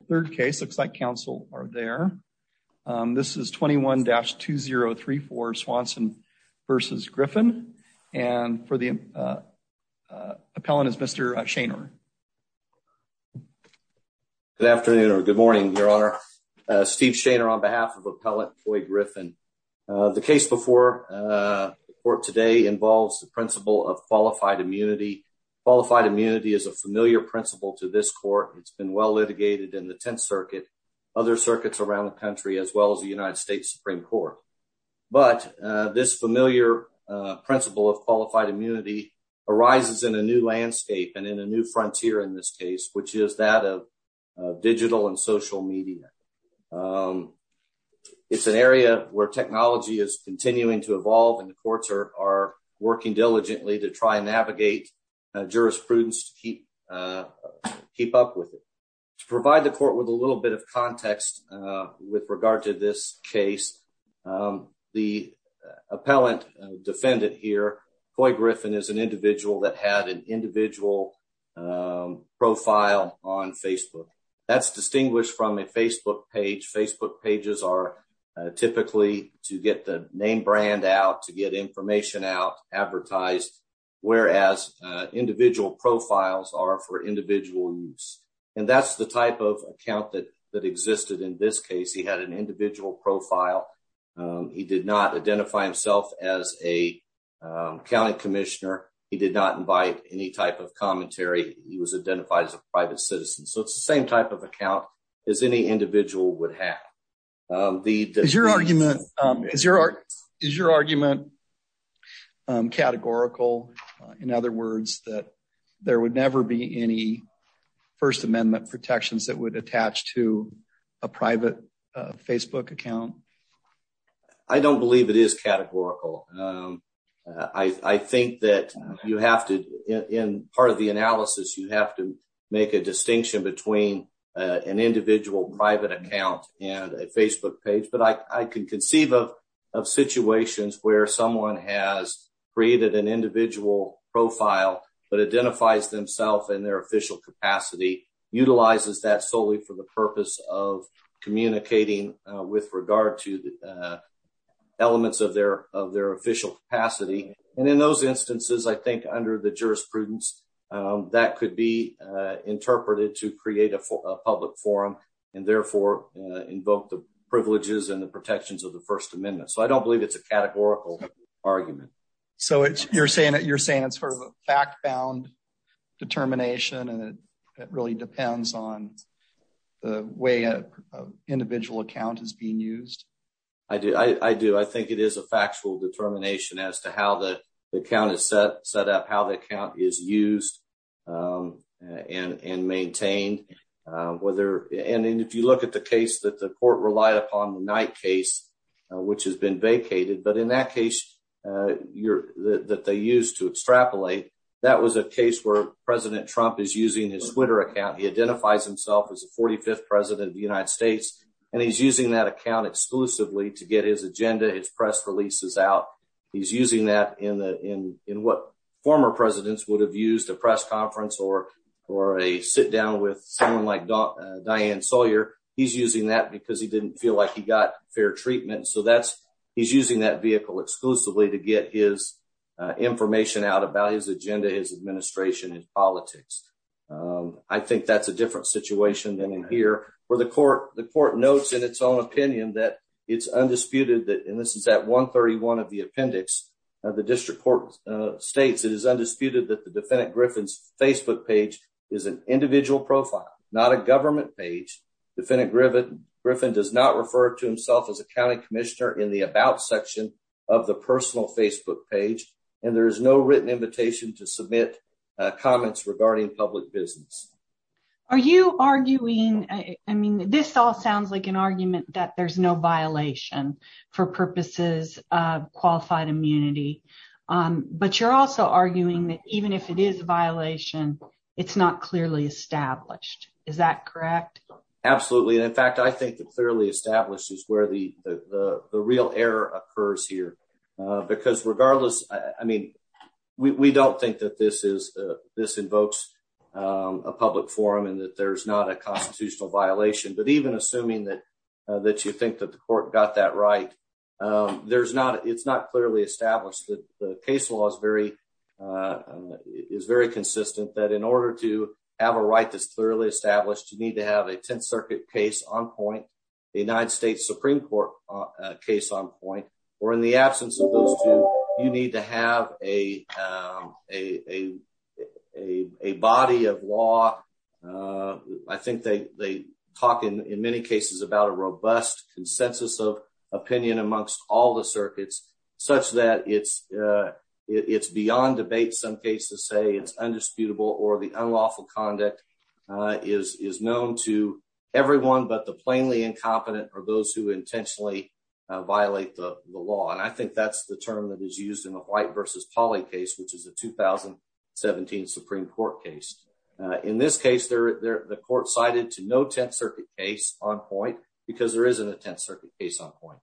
The third case looks like counsel are there. This is 21-2034 Swanson v. Griffin and for the appellant is Mr. Shaner. Good afternoon or good morning your honor. Steve Shaner on behalf of appellant Floyd Griffin. The case before the court today involves the principle of qualified immunity. Qualified immunity is a familiar principle to this court. It's well litigated in the 10th circuit and other circuits around the country as well as the United States Supreme Court. But this familiar principle of qualified immunity arises in a new landscape and in a new frontier in this case which is that of digital and social media. It's an area where technology is continuing to evolve and the courts are working diligently to navigate jurisprudence to keep up with it. To provide the court with a little bit of context with regard to this case the appellant defendant here Floyd Griffin is an individual that had an individual profile on Facebook. That's distinguished from a Facebook page. Facebook whereas individual profiles are for individual use and that's the type of account that existed in this case. He had an individual profile. He did not identify himself as a county commissioner. He did not invite any type of commentary. He was identified as a private citizen so it's the same type of account as any individual would have. Is your argument categorical? In other words that there would never be any first amendment protections that would attach to a private Facebook account? I don't believe it is categorical. I think that you have to in part of the analysis you have to make a distinction between an individual private account and a Facebook page but I can conceive of situations where someone has created an individual profile but identifies themselves in their official capacity. Utilizes that solely for the purpose of communicating with regard to the elements of their official capacity. And in those instances I think under the jurisprudence that could be interpreted to public forum and therefore invoke the privileges and protections of the first amendment. I don't believe it's a categorical argument. So you're saying it's a fact-bound determination and it really depends on the way an individual account is being used? I do. I think it is a factual determination as to how the account is set up, how the account is used and maintained. And if you look at the case that the court relied upon the Knight case which has been vacated but in that case that they used to extrapolate that was a case where President Trump is using his Twitter account. He identifies himself as the 45th president of the United States and he's using that account exclusively to get his agenda, his press releases out. He's using that in what former presidents would have used a press conference or a sit down with someone like Diane Sawyer. He's using that because he didn't feel like he got fair treatment. So he's using that vehicle exclusively to get his information out about his agenda, his administration and politics. I think that's a different situation than in here where the court notes in its own opinion that it's undisputed that and this is at 131 of the appendix of the district court states it is undisputed that the defendant Griffin's Facebook page is an individual profile not a government page. Defendant Griffin does not refer to himself as a county commissioner in the about section of the personal Facebook page and there is no written invitation to submit comments regarding public business. Are you arguing, I mean this all sounds like an argument that there's no violation for purposes of qualified immunity but you're also arguing that even if it is a violation it's not clearly established. Is that correct? Absolutely and in fact I think that clearly established is where the the real error occurs here because regardless I mean we don't think that this invokes a public forum and that there's not a constitutional violation but even assuming that you think that the court got that right it's not clearly established. The case law is very consistent that in order to have a right that's clearly established you need to have a 10th circuit case on point, the United States Supreme Court case on point or in the absence of those two you need to have a body of law. I think they talk in many cases about a robust consensus of opinion amongst all the circuits such that it's beyond debate. Some cases say it's undisputable or the unlawful conduct is known to everyone but the plainly incompetent or those who intentionally violate the law and I think that's the term that is used in the White versus Polly case which is a 2017 Supreme Court case. In this case the court cited to no 10th circuit case on point because there isn't a 10th circuit case on point.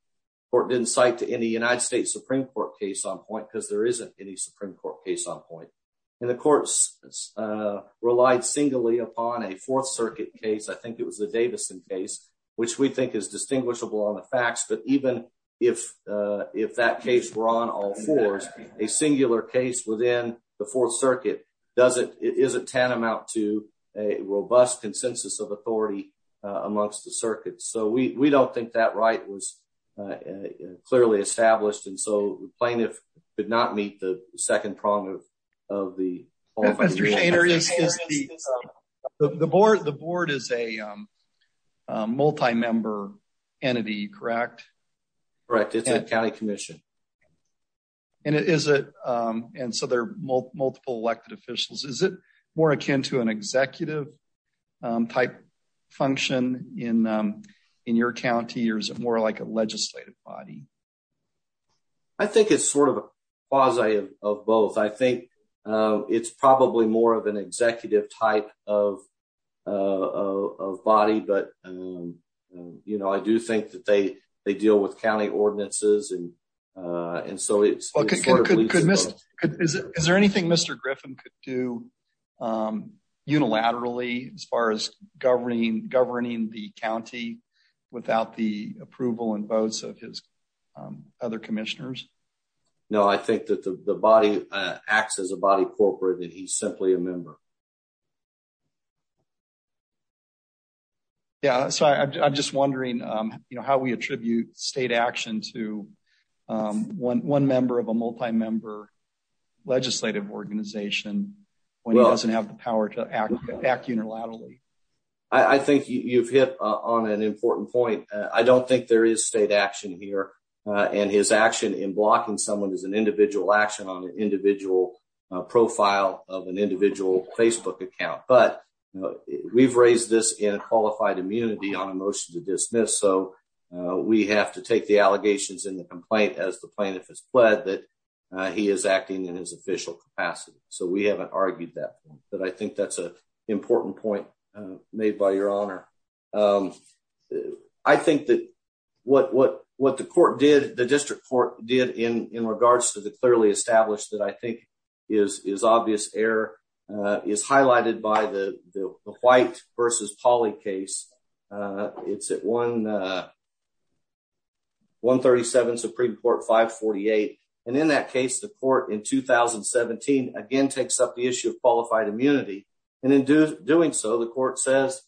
Court didn't cite to any United States Supreme Court case on point because there isn't any Supreme Court case on point and the courts relied singly upon a fourth circuit case. I think it was the Davison case which we think is distinguishable on the facts but even if that case were on all fours a singular case within the fourth circuit doesn't it isn't tantamount to a robust consensus of authority amongst the circuits. So we don't think that so the plaintiff did not meet the second prong of the the board. The board is a multi-member entity correct? Correct it's a county commission. And is it and so there are multiple elected officials is it more akin to an executive type function in your county or is it more like a legislative body? I think it's sort of a quasi of both. I think it's probably more of an executive type of of body but you know I do think that they they deal with county ordinances and and so it's. Is there anything Mr. Griffin could do unilaterally as far as governing the county without the approval and votes of his other commissioners? No I think that the body acts as a body corporate that he's simply a member. Yeah so I'm just wondering you know how we attribute state action to one member of a multi-member legislative organization when he doesn't have the power to act unilaterally. I think you've hit on an important point. I don't think there is state action here and his action in blocking someone is an individual action on an individual profile of an individual Facebook account. But we've raised this in qualified immunity on a motion to dismiss so we have to take the allegations in the complaint as the plaintiff has pled that he is acting in his official capacity. So we haven't argued that but I think that's an important point made by your honor. I think that what what what the court did the district court did in in regards to the clearly established that I think is is obvious error is highlighted by the the white versus polly case. It's at 137 supreme court 548 and in that case the court in 2017 again takes up the issue of qualified immunity and in doing so the court says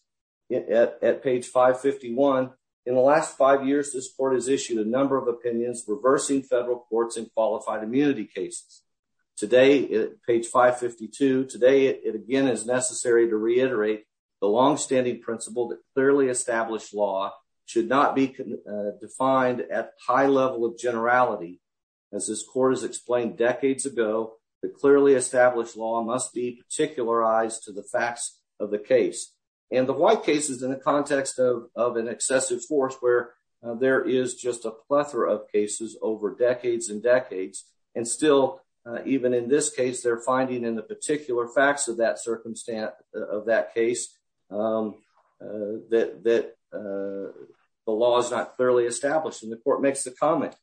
at page 551 in the last five years this court has issued a number of opinions reversing federal courts in qualified immunity cases. Today at page 552 today it again is necessary to reiterate the long-standing principle that clearly established law should not be defined at high level of generality. As this court has explained decades ago the clearly established law must be particularized to the facts of the case and the white cases in the context of of an excessive force where there is just a plethora of cases over decades and decades and still even in this case they're finding in the particular facts of that circumstance of that case that that the law is not clearly established and the court makes the comment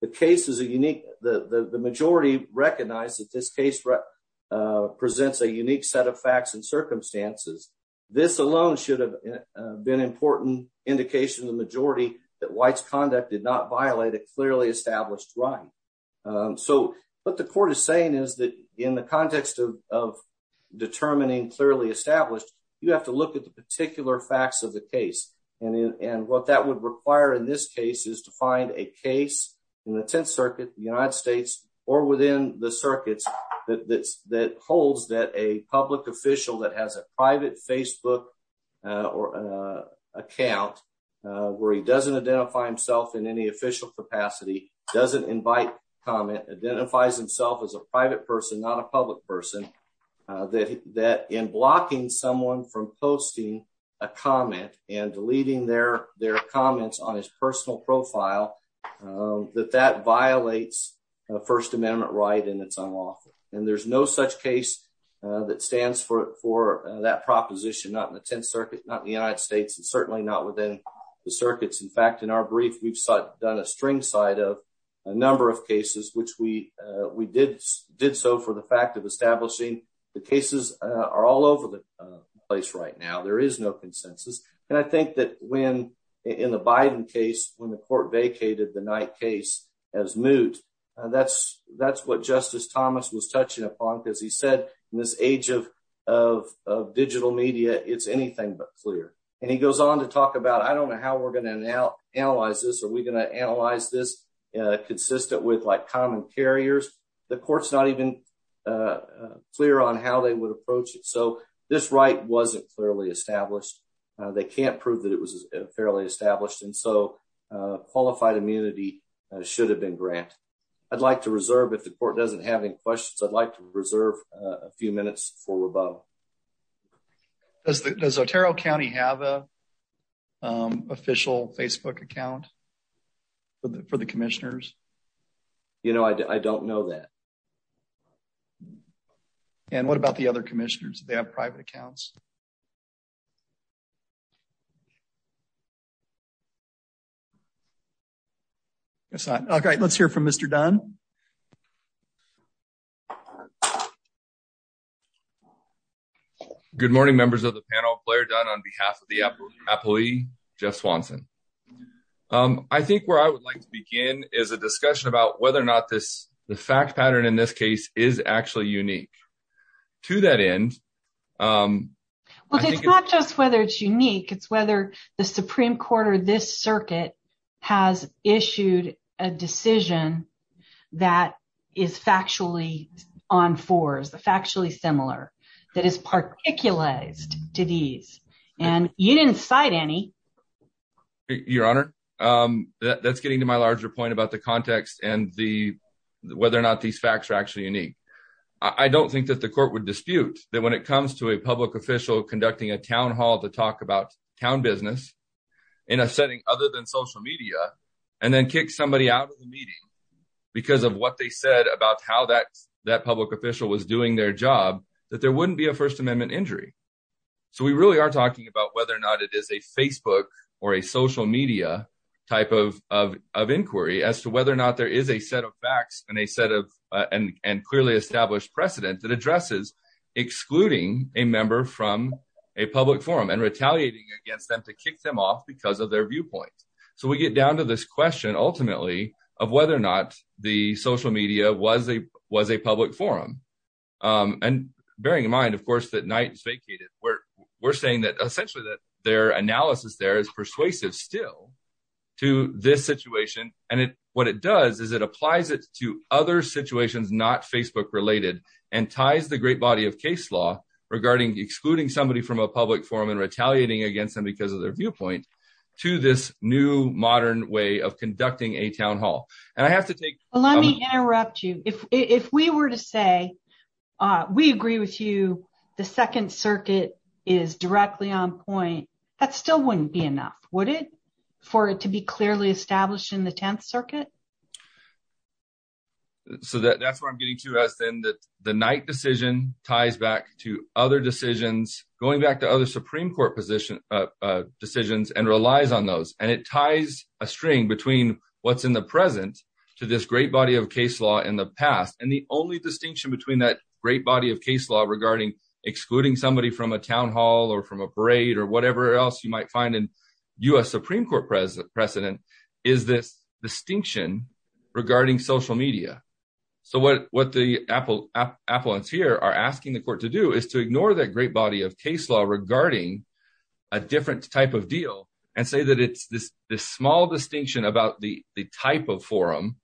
the case is a unique the the majority recognize that this case presents a unique set of facts and circumstances this alone should have been important indication of the majority that white's conduct did not violate a clearly established right. So what the court is saying is that in the context of of determining clearly established you have to look at the particular facts of the case and in and what that would require in this case is to find a case in the 10th circuit the United States or within the circuits that that's that holds that a public official that has a private Facebook or an account where he doesn't identify himself in any official capacity doesn't invite comment identifies himself as a private person not a public person that that in blocking someone from posting a comment and deleting their their comments on his personal profile that that violates a first amendment right and it's unlawful and there's no such case that stands for for that proposition not in the 10th circuit not in the United States and certainly not within the circuits in fact in our brief we've done a string side of a number of cases which we we did did so for the fact of establishing the cases are all over the place right now there is no consensus and I think that when in the Biden case when the court vacated the night case as moot that's that's what Justice Thomas was touching upon because he said in this age of of of media it's anything but clear and he goes on to talk about I don't know how we're going to analyze this are we going to analyze this consistent with like common carriers the court's not even clear on how they would approach it so this right wasn't clearly established they can't prove that it was fairly established and so qualified immunity should have been granted I'd like to reserve if the court doesn't have any questions I'd like to reserve a few minutes for about does the does Otero County have a official Facebook account for the commissioners you know I don't know that and what about the other commissioners they have private accounts it's not okay let's hear from Mr Dunn Good morning members of the panel Blair Dunn on behalf of the Apple Appley Jeff Swanson I think where I would like to begin is a discussion about whether or not this the fact pattern in this case is actually unique to that end well it's not just whether it's unique it's whether the Supreme Court or this circuit has issued a decision that is factually on fours the factually similar that is particularized to these and you didn't cite any your honor that's getting to my larger point about the context and the whether or not these facts are actually unique I don't think that the court would dispute that when it comes to a public official conducting a town hall to talk about town business in a setting other than social media and then kick somebody out of the meeting because of what they said about how that that public official was doing their job that there wouldn't be a first amendment injury so we really are talking about whether or not it is a Facebook or a social media type of of inquiry as to whether or not there is a set of facts and a set of and and clearly established precedent that addresses excluding a member from a public forum and retaliating against them to kick them off because of their viewpoint so we get down to this question ultimately of whether or not the social media was a was a public forum and bearing in mind of course that night is vacated where we're saying that essentially that their analysis there is persuasive still to this situation and it what it does is it applies it to other situations not Facebook related and ties the great body of case law regarding excluding somebody from a public forum and retaliating against them because of their viewpoint to this new modern way of conducting a town hall and I have to take let me interrupt you if if we were to say uh we agree with you the second circuit is directly on point that still wouldn't be enough would it for it to be clearly established in the 10th circuit so that that's what i'm getting to us then that the night decision ties back to other decisions going back to other supreme court position uh decisions and relies on those and it ties a string between what's in the present to this great body of case law in the past and the only distinction between that great body of case law regarding excluding somebody from a town hall or from a parade or whatever else you might find in u.s supreme court president precedent is this distinction regarding social media so what what the apple appliance here are asking the court to do is to ignore that great body of case law regarding a different type of deal and say that it's this this small distinction about the the type of forum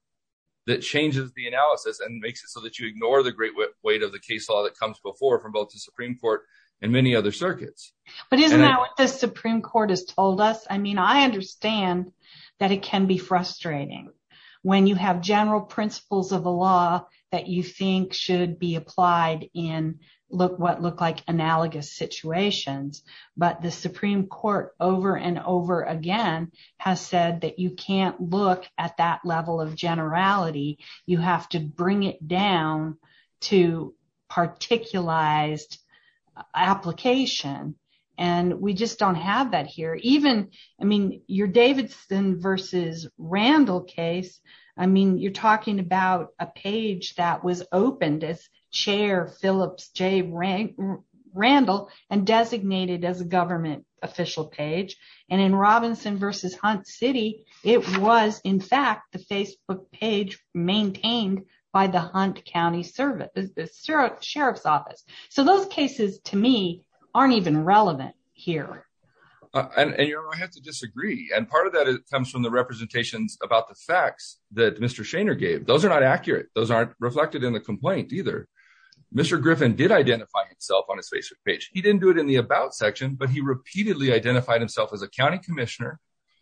that changes the analysis and makes it so that you ignore the great weight of the case law that comes before from both the supreme court and many other circuits but isn't that what the supreme court has told us i mean i understand that it can be frustrating when you have general principles of the law that you think should be applied in look what look like analogous situations but the supreme court over and over again has said that you can't look at that level of generality you have to bring it down to particularized application and we just don't have that here even i mean your davidson versus randall case i mean you're talking about a page that was opened as chair phillips jay rank randall and designated as a government official page and in robinson versus hunt city it was in fact the facebook page maintained by the hunt county service the sheriff's office so those cases to me aren't even relevant here and you know i have to disagree and part of that comes from the representations about the facts that mr shaner gave those are not accurate those aren't reflected in the complaint either mr griffin did identify himself on his facebook page he didn't do it in the about section but he repeatedly identified himself as a county commissioner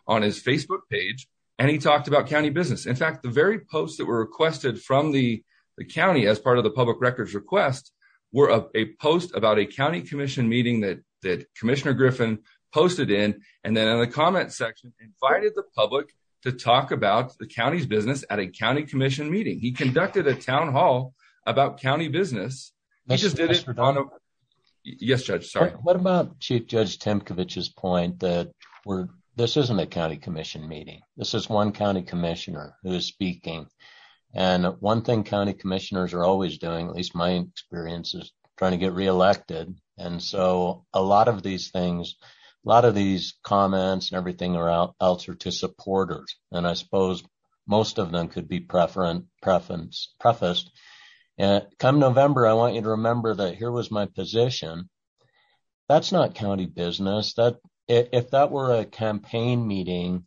on his facebook page and he talked about county business in fact the very posts that were requested from the the county as part of the public records request were a post about a county commission meeting that commissioner griffin posted in and then in the comment section invited the public to talk about the county's business at a county commission meeting he conducted a town hall about county business he just did it for dono yes judge sorry what about chief judge temkovic's point that we're this isn't a county commission meeting this is one county commissioner who is speaking and one thing county commissioners are always doing at least my experience is trying to get elected and so a lot of these things a lot of these comments and everything or else are to supporters and i suppose most of them could be preference preference prefaced and come november i want you to remember that here was my position that's not county business that if that were a campaign meeting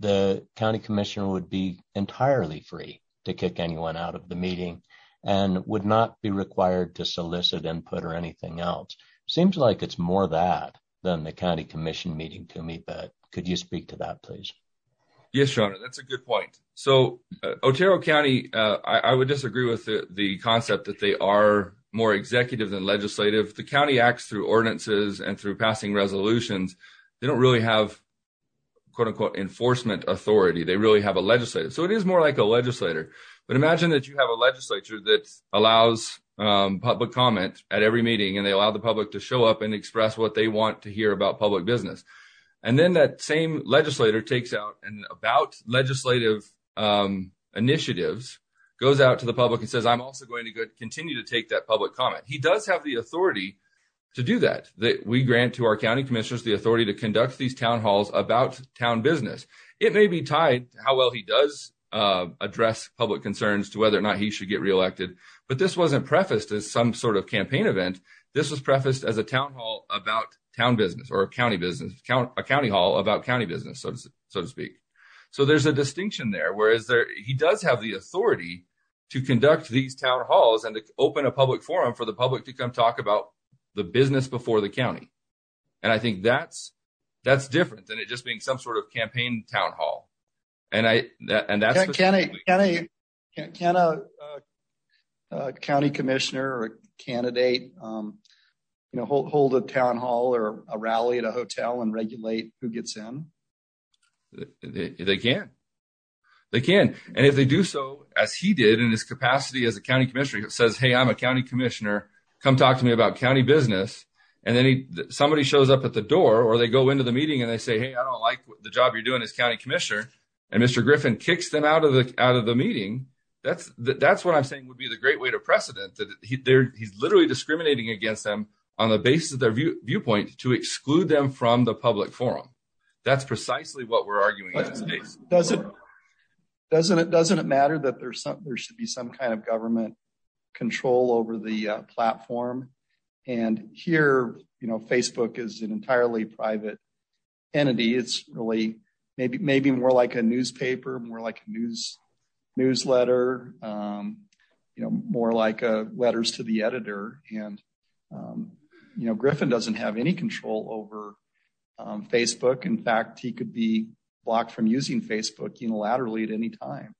the county commissioner would be entirely free to kick anyone out of the meeting and would not be required to solicit input or anything else seems like it's more that than the county commission meeting to me but could you speak to that please yes your honor that's a good point so otero county uh i would disagree with the concept that they are more executive than legislative the county acts through ordinances and through passing resolutions they don't really have quote-unquote enforcement authority they really have a legislative so it is that allows public comment at every meeting and they allow the public to show up and express what they want to hear about public business and then that same legislator takes out and about legislative initiatives goes out to the public and says i'm also going to continue to take that public comment he does have the authority to do that that we grant to our county commissioners the authority to conduct these town halls about town business it may be tied how well he does address public concerns to whether or not he should get re-elected but this wasn't prefaced as some sort of campaign event this was prefaced as a town hall about town business or a county business account a county hall about county business so to speak so there's a distinction there whereas there he does have the authority to conduct these town halls and to open a public forum for the public to come talk about the business before the county and i think that's that's different than it just being some sort of campaign town hall and i and that's can i can i can a county commissioner or a candidate um you know hold a town hall or a rally at a hotel and regulate who gets in they can they can and if they do so as he did in his capacity as a county commissioner he says hey i'm a county commissioner come talk to me about county business and then he shows up at the door or they go into the meeting and they say hey i don't like the job you're doing as county commissioner and mr griffin kicks them out of the out of the meeting that's that that's what i'm saying would be the great way to precedent that he there he's literally discriminating against them on the basis of their viewpoint to exclude them from the public forum that's precisely what we're arguing in this case does it doesn't it doesn't it matter that there's something there should be some kind of government control over the platform and here you know facebook is an entirely private entity it's really maybe maybe more like a newspaper more like a news newsletter um you know more like uh letters to the editor and um you know griffin doesn't have any control over um facebook in fact he could be blocked from using facebook unilaterally at any time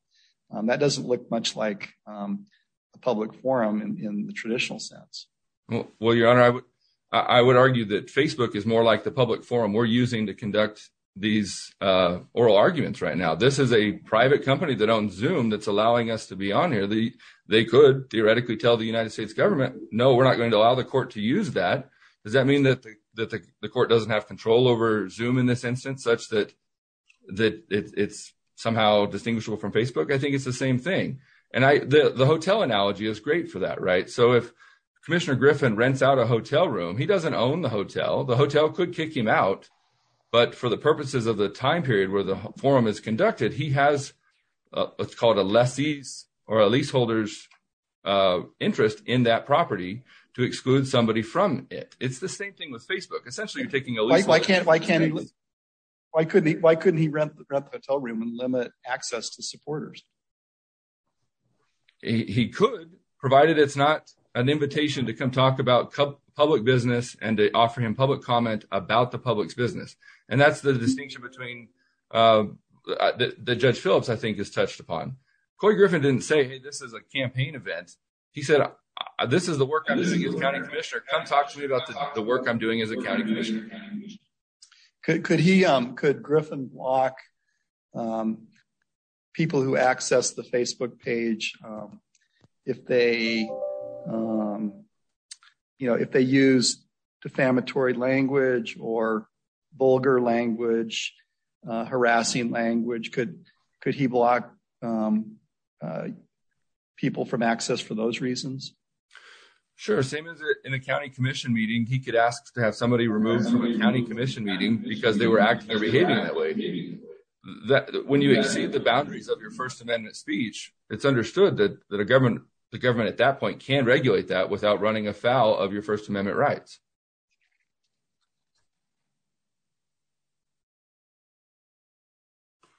that doesn't look much like um a public forum in the traditional sense well your honor i would i would argue that facebook is more like the public forum we're using to conduct these uh oral arguments right now this is a private company that owns zoom that's allowing us to be on here the they could theoretically tell the united states government no we're not going to allow the court to use that does that mean that that the court doesn't have control over zoom in this instance such that that it's somehow distinguishable from facebook i think it's the griffin rents out a hotel room he doesn't own the hotel the hotel could kick him out but for the purposes of the time period where the forum is conducted he has what's called a lessee's or a leaseholder's uh interest in that property to exclude somebody from it it's the same thing with facebook essentially you're taking a like why can't why can't he why couldn't he why couldn't he rent the hotel room and limit access to supporters he could provided it's not an invitation to come talk about public business and to offer him public comment about the public's business and that's the distinction between uh the judge phillips i think is touched upon cory griffin didn't say hey this is a campaign event he said this is the work i'm missing his county commissioner come talk to me about the work i'm doing as a county commissioner could could he um could griffin block um people who access the facebook page um if they um you know if they use defamatory language or vulgar language uh harassing language could could he block um uh people from access for those reasons sure same as in a county commission meeting he could ask to have somebody removed from a county commission meeting because they were acting or behaving that way that when you exceed the boundaries of your first amendment speech it's understood that that a government the government at that point can regulate that without running afoul of your first amendment rights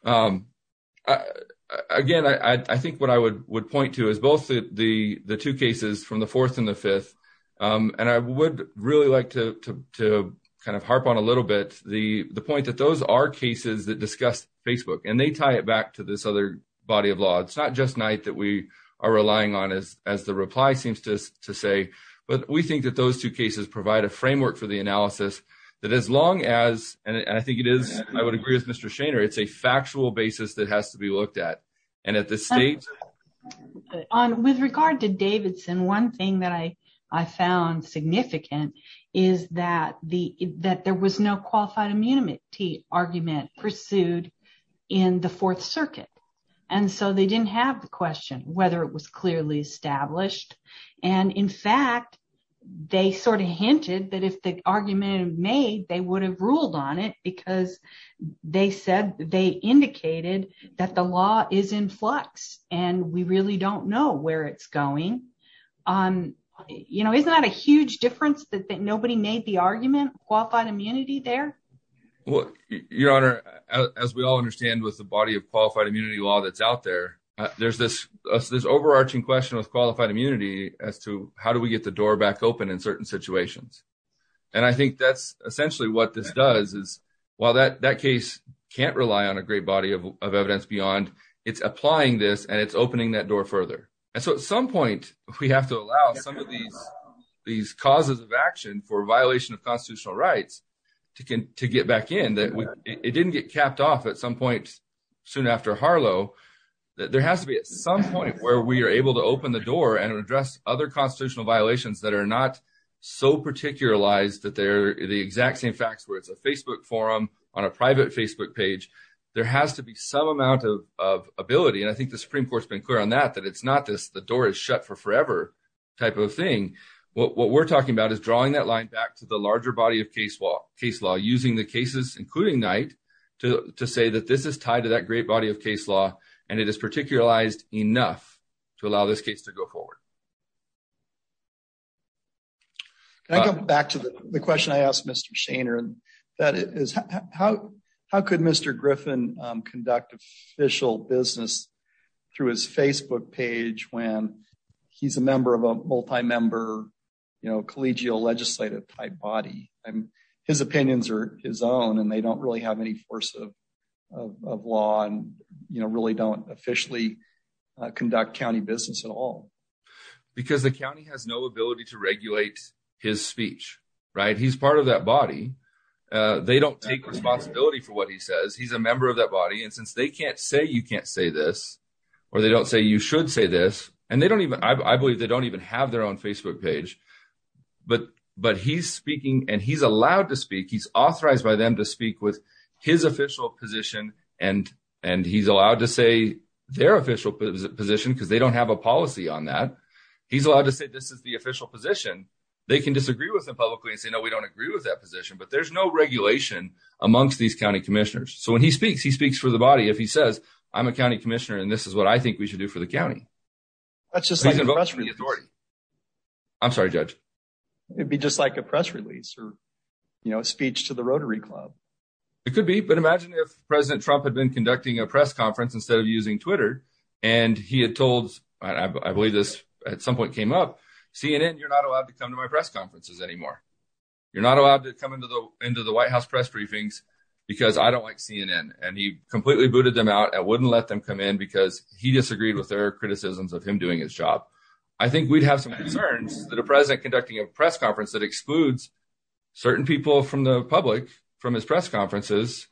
um again i i think what i would would the the two cases from the fourth and the fifth um and i would really like to to kind of harp on a little bit the the point that those are cases that discuss facebook and they tie it back to this other body of law it's not just night that we are relying on as as the reply seems to to say but we think that those two cases provide a framework for the analysis that as long as and i think it is i would agree with mr shaner it's a factual basis that has to be looked at and at the state on with regard to davidson one thing that i i found significant is that the that there was no qualified immunity argument pursued in the fourth circuit and so they didn't have the question whether it was clearly established and in fact they sort of hinted that if the argument would have ruled on it because they said they indicated that the law is in flux and we really don't know where it's going um you know isn't that a huge difference that nobody made the argument qualified immunity there well your honor as we all understand with the body of qualified immunity law that's out there there's this this overarching question with qualified immunity as to how do we get the door back open in certain situations and i think that's essentially what this does is while that that case can't rely on a great body of evidence beyond it's applying this and it's opening that door further and so at some point we have to allow some of these these causes of action for violation of constitutional rights to get back in that it didn't get capped off at some point soon after harlow that there has to be at some point where we are able to open the door and address other constitutional violations that are not so particularized that they're the exact same facts where it's a facebook forum on a private facebook page there has to be some amount of of ability and i think the supreme court's been clear on that that it's not this the door is shut for forever type of thing what we're talking about is drawing that line back to the larger body of case law case law using the cases including knight to to say that this is tied to that great body of court can i go back to the question i asked mr shaner and that is how how could mr griffin conduct official business through his facebook page when he's a member of a multi-member you know collegial legislative type body and his opinions are his own and they don't really have any force of of law and you know really don't officially conduct county business at all because the county has no ability to regulate his speech right he's part of that body uh they don't take responsibility for what he says he's a member of that body and since they can't say you can't say this or they don't say you should say this and they don't even i believe they don't even have their own facebook page but but he's speaking and he's allowed to speak he's authorized by them to speak with his official position and and he's allowed to say their official position because they don't have a policy on that he's allowed to say this is the official position they can disagree with them publicly and say no we don't agree with that position but there's no regulation amongst these county commissioners so when he speaks he speaks for the body if he says i'm a county commissioner and this is what i think we should do for the county that's just i'm sorry judge it'd be just like a press release or you know speech to the rotary club it could be but imagine if president trump had been conducting a press conference instead of using twitter and he had told i believe this at some point came up cnn you're not allowed to come to my press conferences anymore you're not allowed to come into the into the white house press briefings because i don't like cnn and he completely booted them out i wouldn't let them come in because he disagreed with their criticisms of him doing his job i think we'd have some concerns that a president conducting a press conference that excludes certain people from the public from his press conferences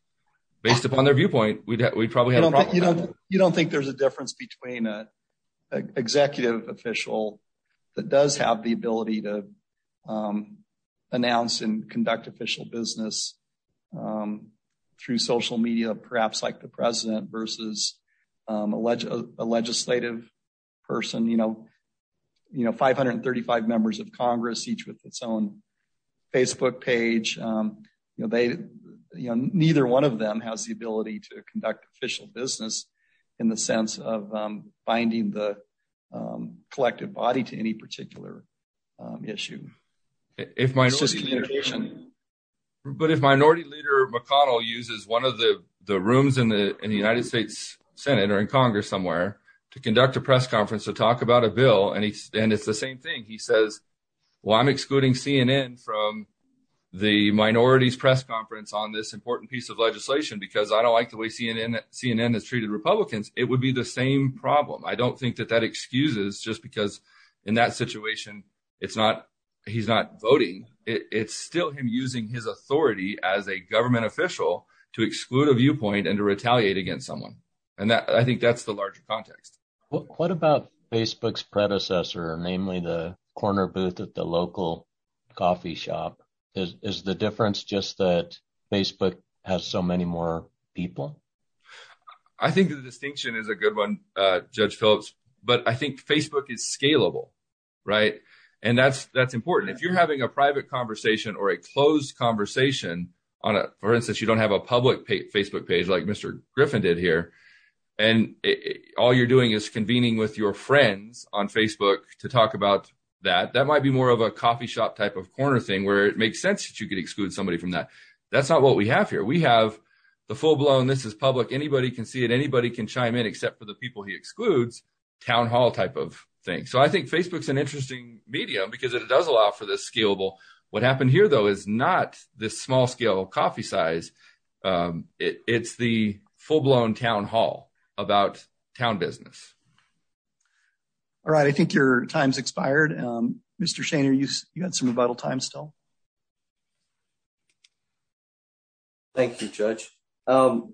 based upon their viewpoint we'd probably have a problem you don't you don't think there's a difference between a executive official that does have the ability to announce and conduct official business through social media perhaps like the president versus um alleged a legislative person you know you know 535 members of congress each with its own facebook page um you know they you know neither one of them has the ability to conduct official business in the sense of finding the collective body to any particular issue if my communication but if minority leader mcconnell uses one of the the rooms in the in the united states senate or in congress somewhere to conduct a press conference to talk about a bill and he and it's the same thing he says well i'm excluding cnn from the minorities press conference on this it would be the same problem i don't think that that excuses just because in that situation it's not he's not voting it's still him using his authority as a government official to exclude a viewpoint and to retaliate against someone and that i think that's the larger context what about facebook's predecessor namely the corner booth at the local coffee shop is the difference just that i think the distinction is a good one uh judge phillips but i think facebook is scalable right and that's that's important if you're having a private conversation or a closed conversation on a for instance you don't have a public facebook page like mr griffin did here and all you're doing is convening with your friends on facebook to talk about that that might be more of a coffee shop type of corner thing where it makes sense that you could exclude somebody from that that's not what we have here we have the full-blown this is public anybody can see it anybody can chime in except for the people he excludes town hall type of thing so i think facebook's an interesting medium because it does allow for this scalable what happened here though is not this small scale coffee size um it's the full-blown town hall about town business all right i think your time's expired um mr shaner you had some rebuttal time still um thank you judge um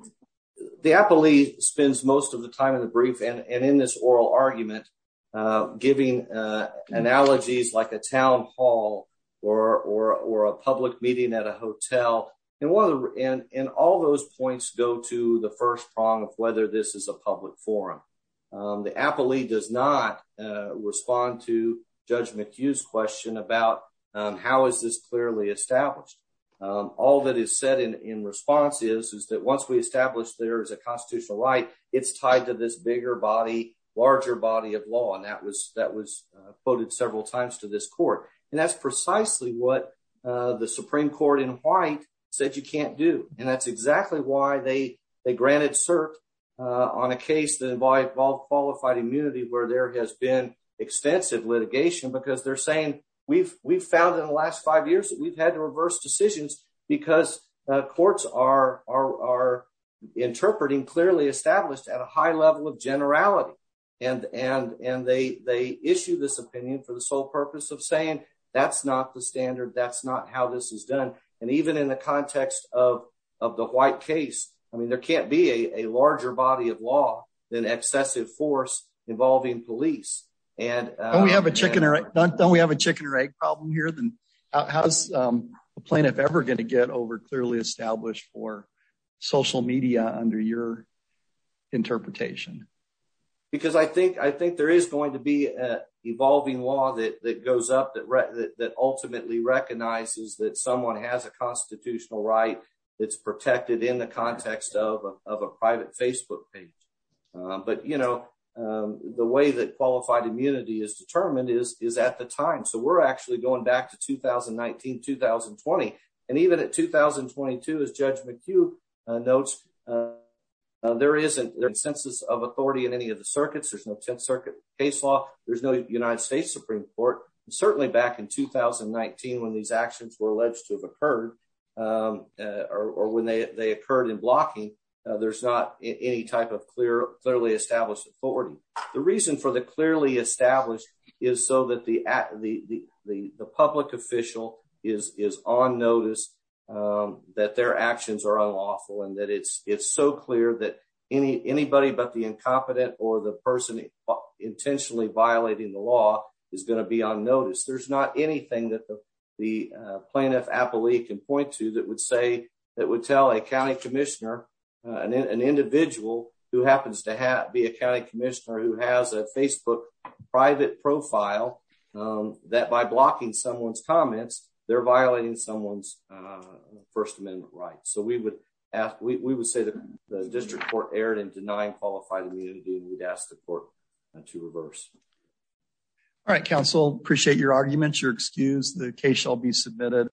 the appellee spends most of the time in the brief and in this oral argument uh giving uh analogies like a town hall or or or a public meeting at a hotel and one of the and and all those points go to the first prong of whether this is a public forum um the appellee does not uh respond to judge mchugh's question about um how is this clearly established um all that is said in in response is is that once we establish there is a constitutional right it's tied to this bigger body larger body of law and that was that was uh quoted several times to this court and that's precisely what uh the supreme court in white said you can't do and that's exactly why they they granted cert uh on a case that involved qualified immunity where there has been extensive litigation because they're saying we've we've found in the last five years that we've had to reverse decisions because uh courts are are interpreting clearly established at a high level of generality and and and they they issue this opinion for the sole purpose of the white case i mean there can't be a a larger body of law than excessive force involving police and we have a chicken or don't we have a chicken or egg problem here then how's um a plaintiff ever going to get over clearly established for social media under your interpretation because i think i think there is going to be a evolving law that that goes up that that ultimately recognizes that someone has a constitutional right that's protected in the context of of a private facebook page but you know the way that qualified immunity is determined is is at the time so we're actually going back to 2019 2020 and even at 2022 as judge McHugh notes there isn't there's census of authority in any of the circuits there's no 10th circuit case law there's no United States Supreme Court certainly back in 2019 when these actions were alleged to have occurred or when they they occurred in blocking there's not any type of clear clearly established authority the reason for the clearly established is so that the at the the the public official is is on notice that their actions are unlawful and that it's it's so clear that any anybody but the incompetent or the person intentionally violating the law is going to be on notice there's not anything that the plaintiff appellee can point to that would say that would tell a county commissioner an individual who happens to have be a county commissioner who has a facebook private profile that by blocking someone's comments they're denying qualified immunity and we'd ask the court to reverse all right council appreciate your arguments you're excused the case shall be submitted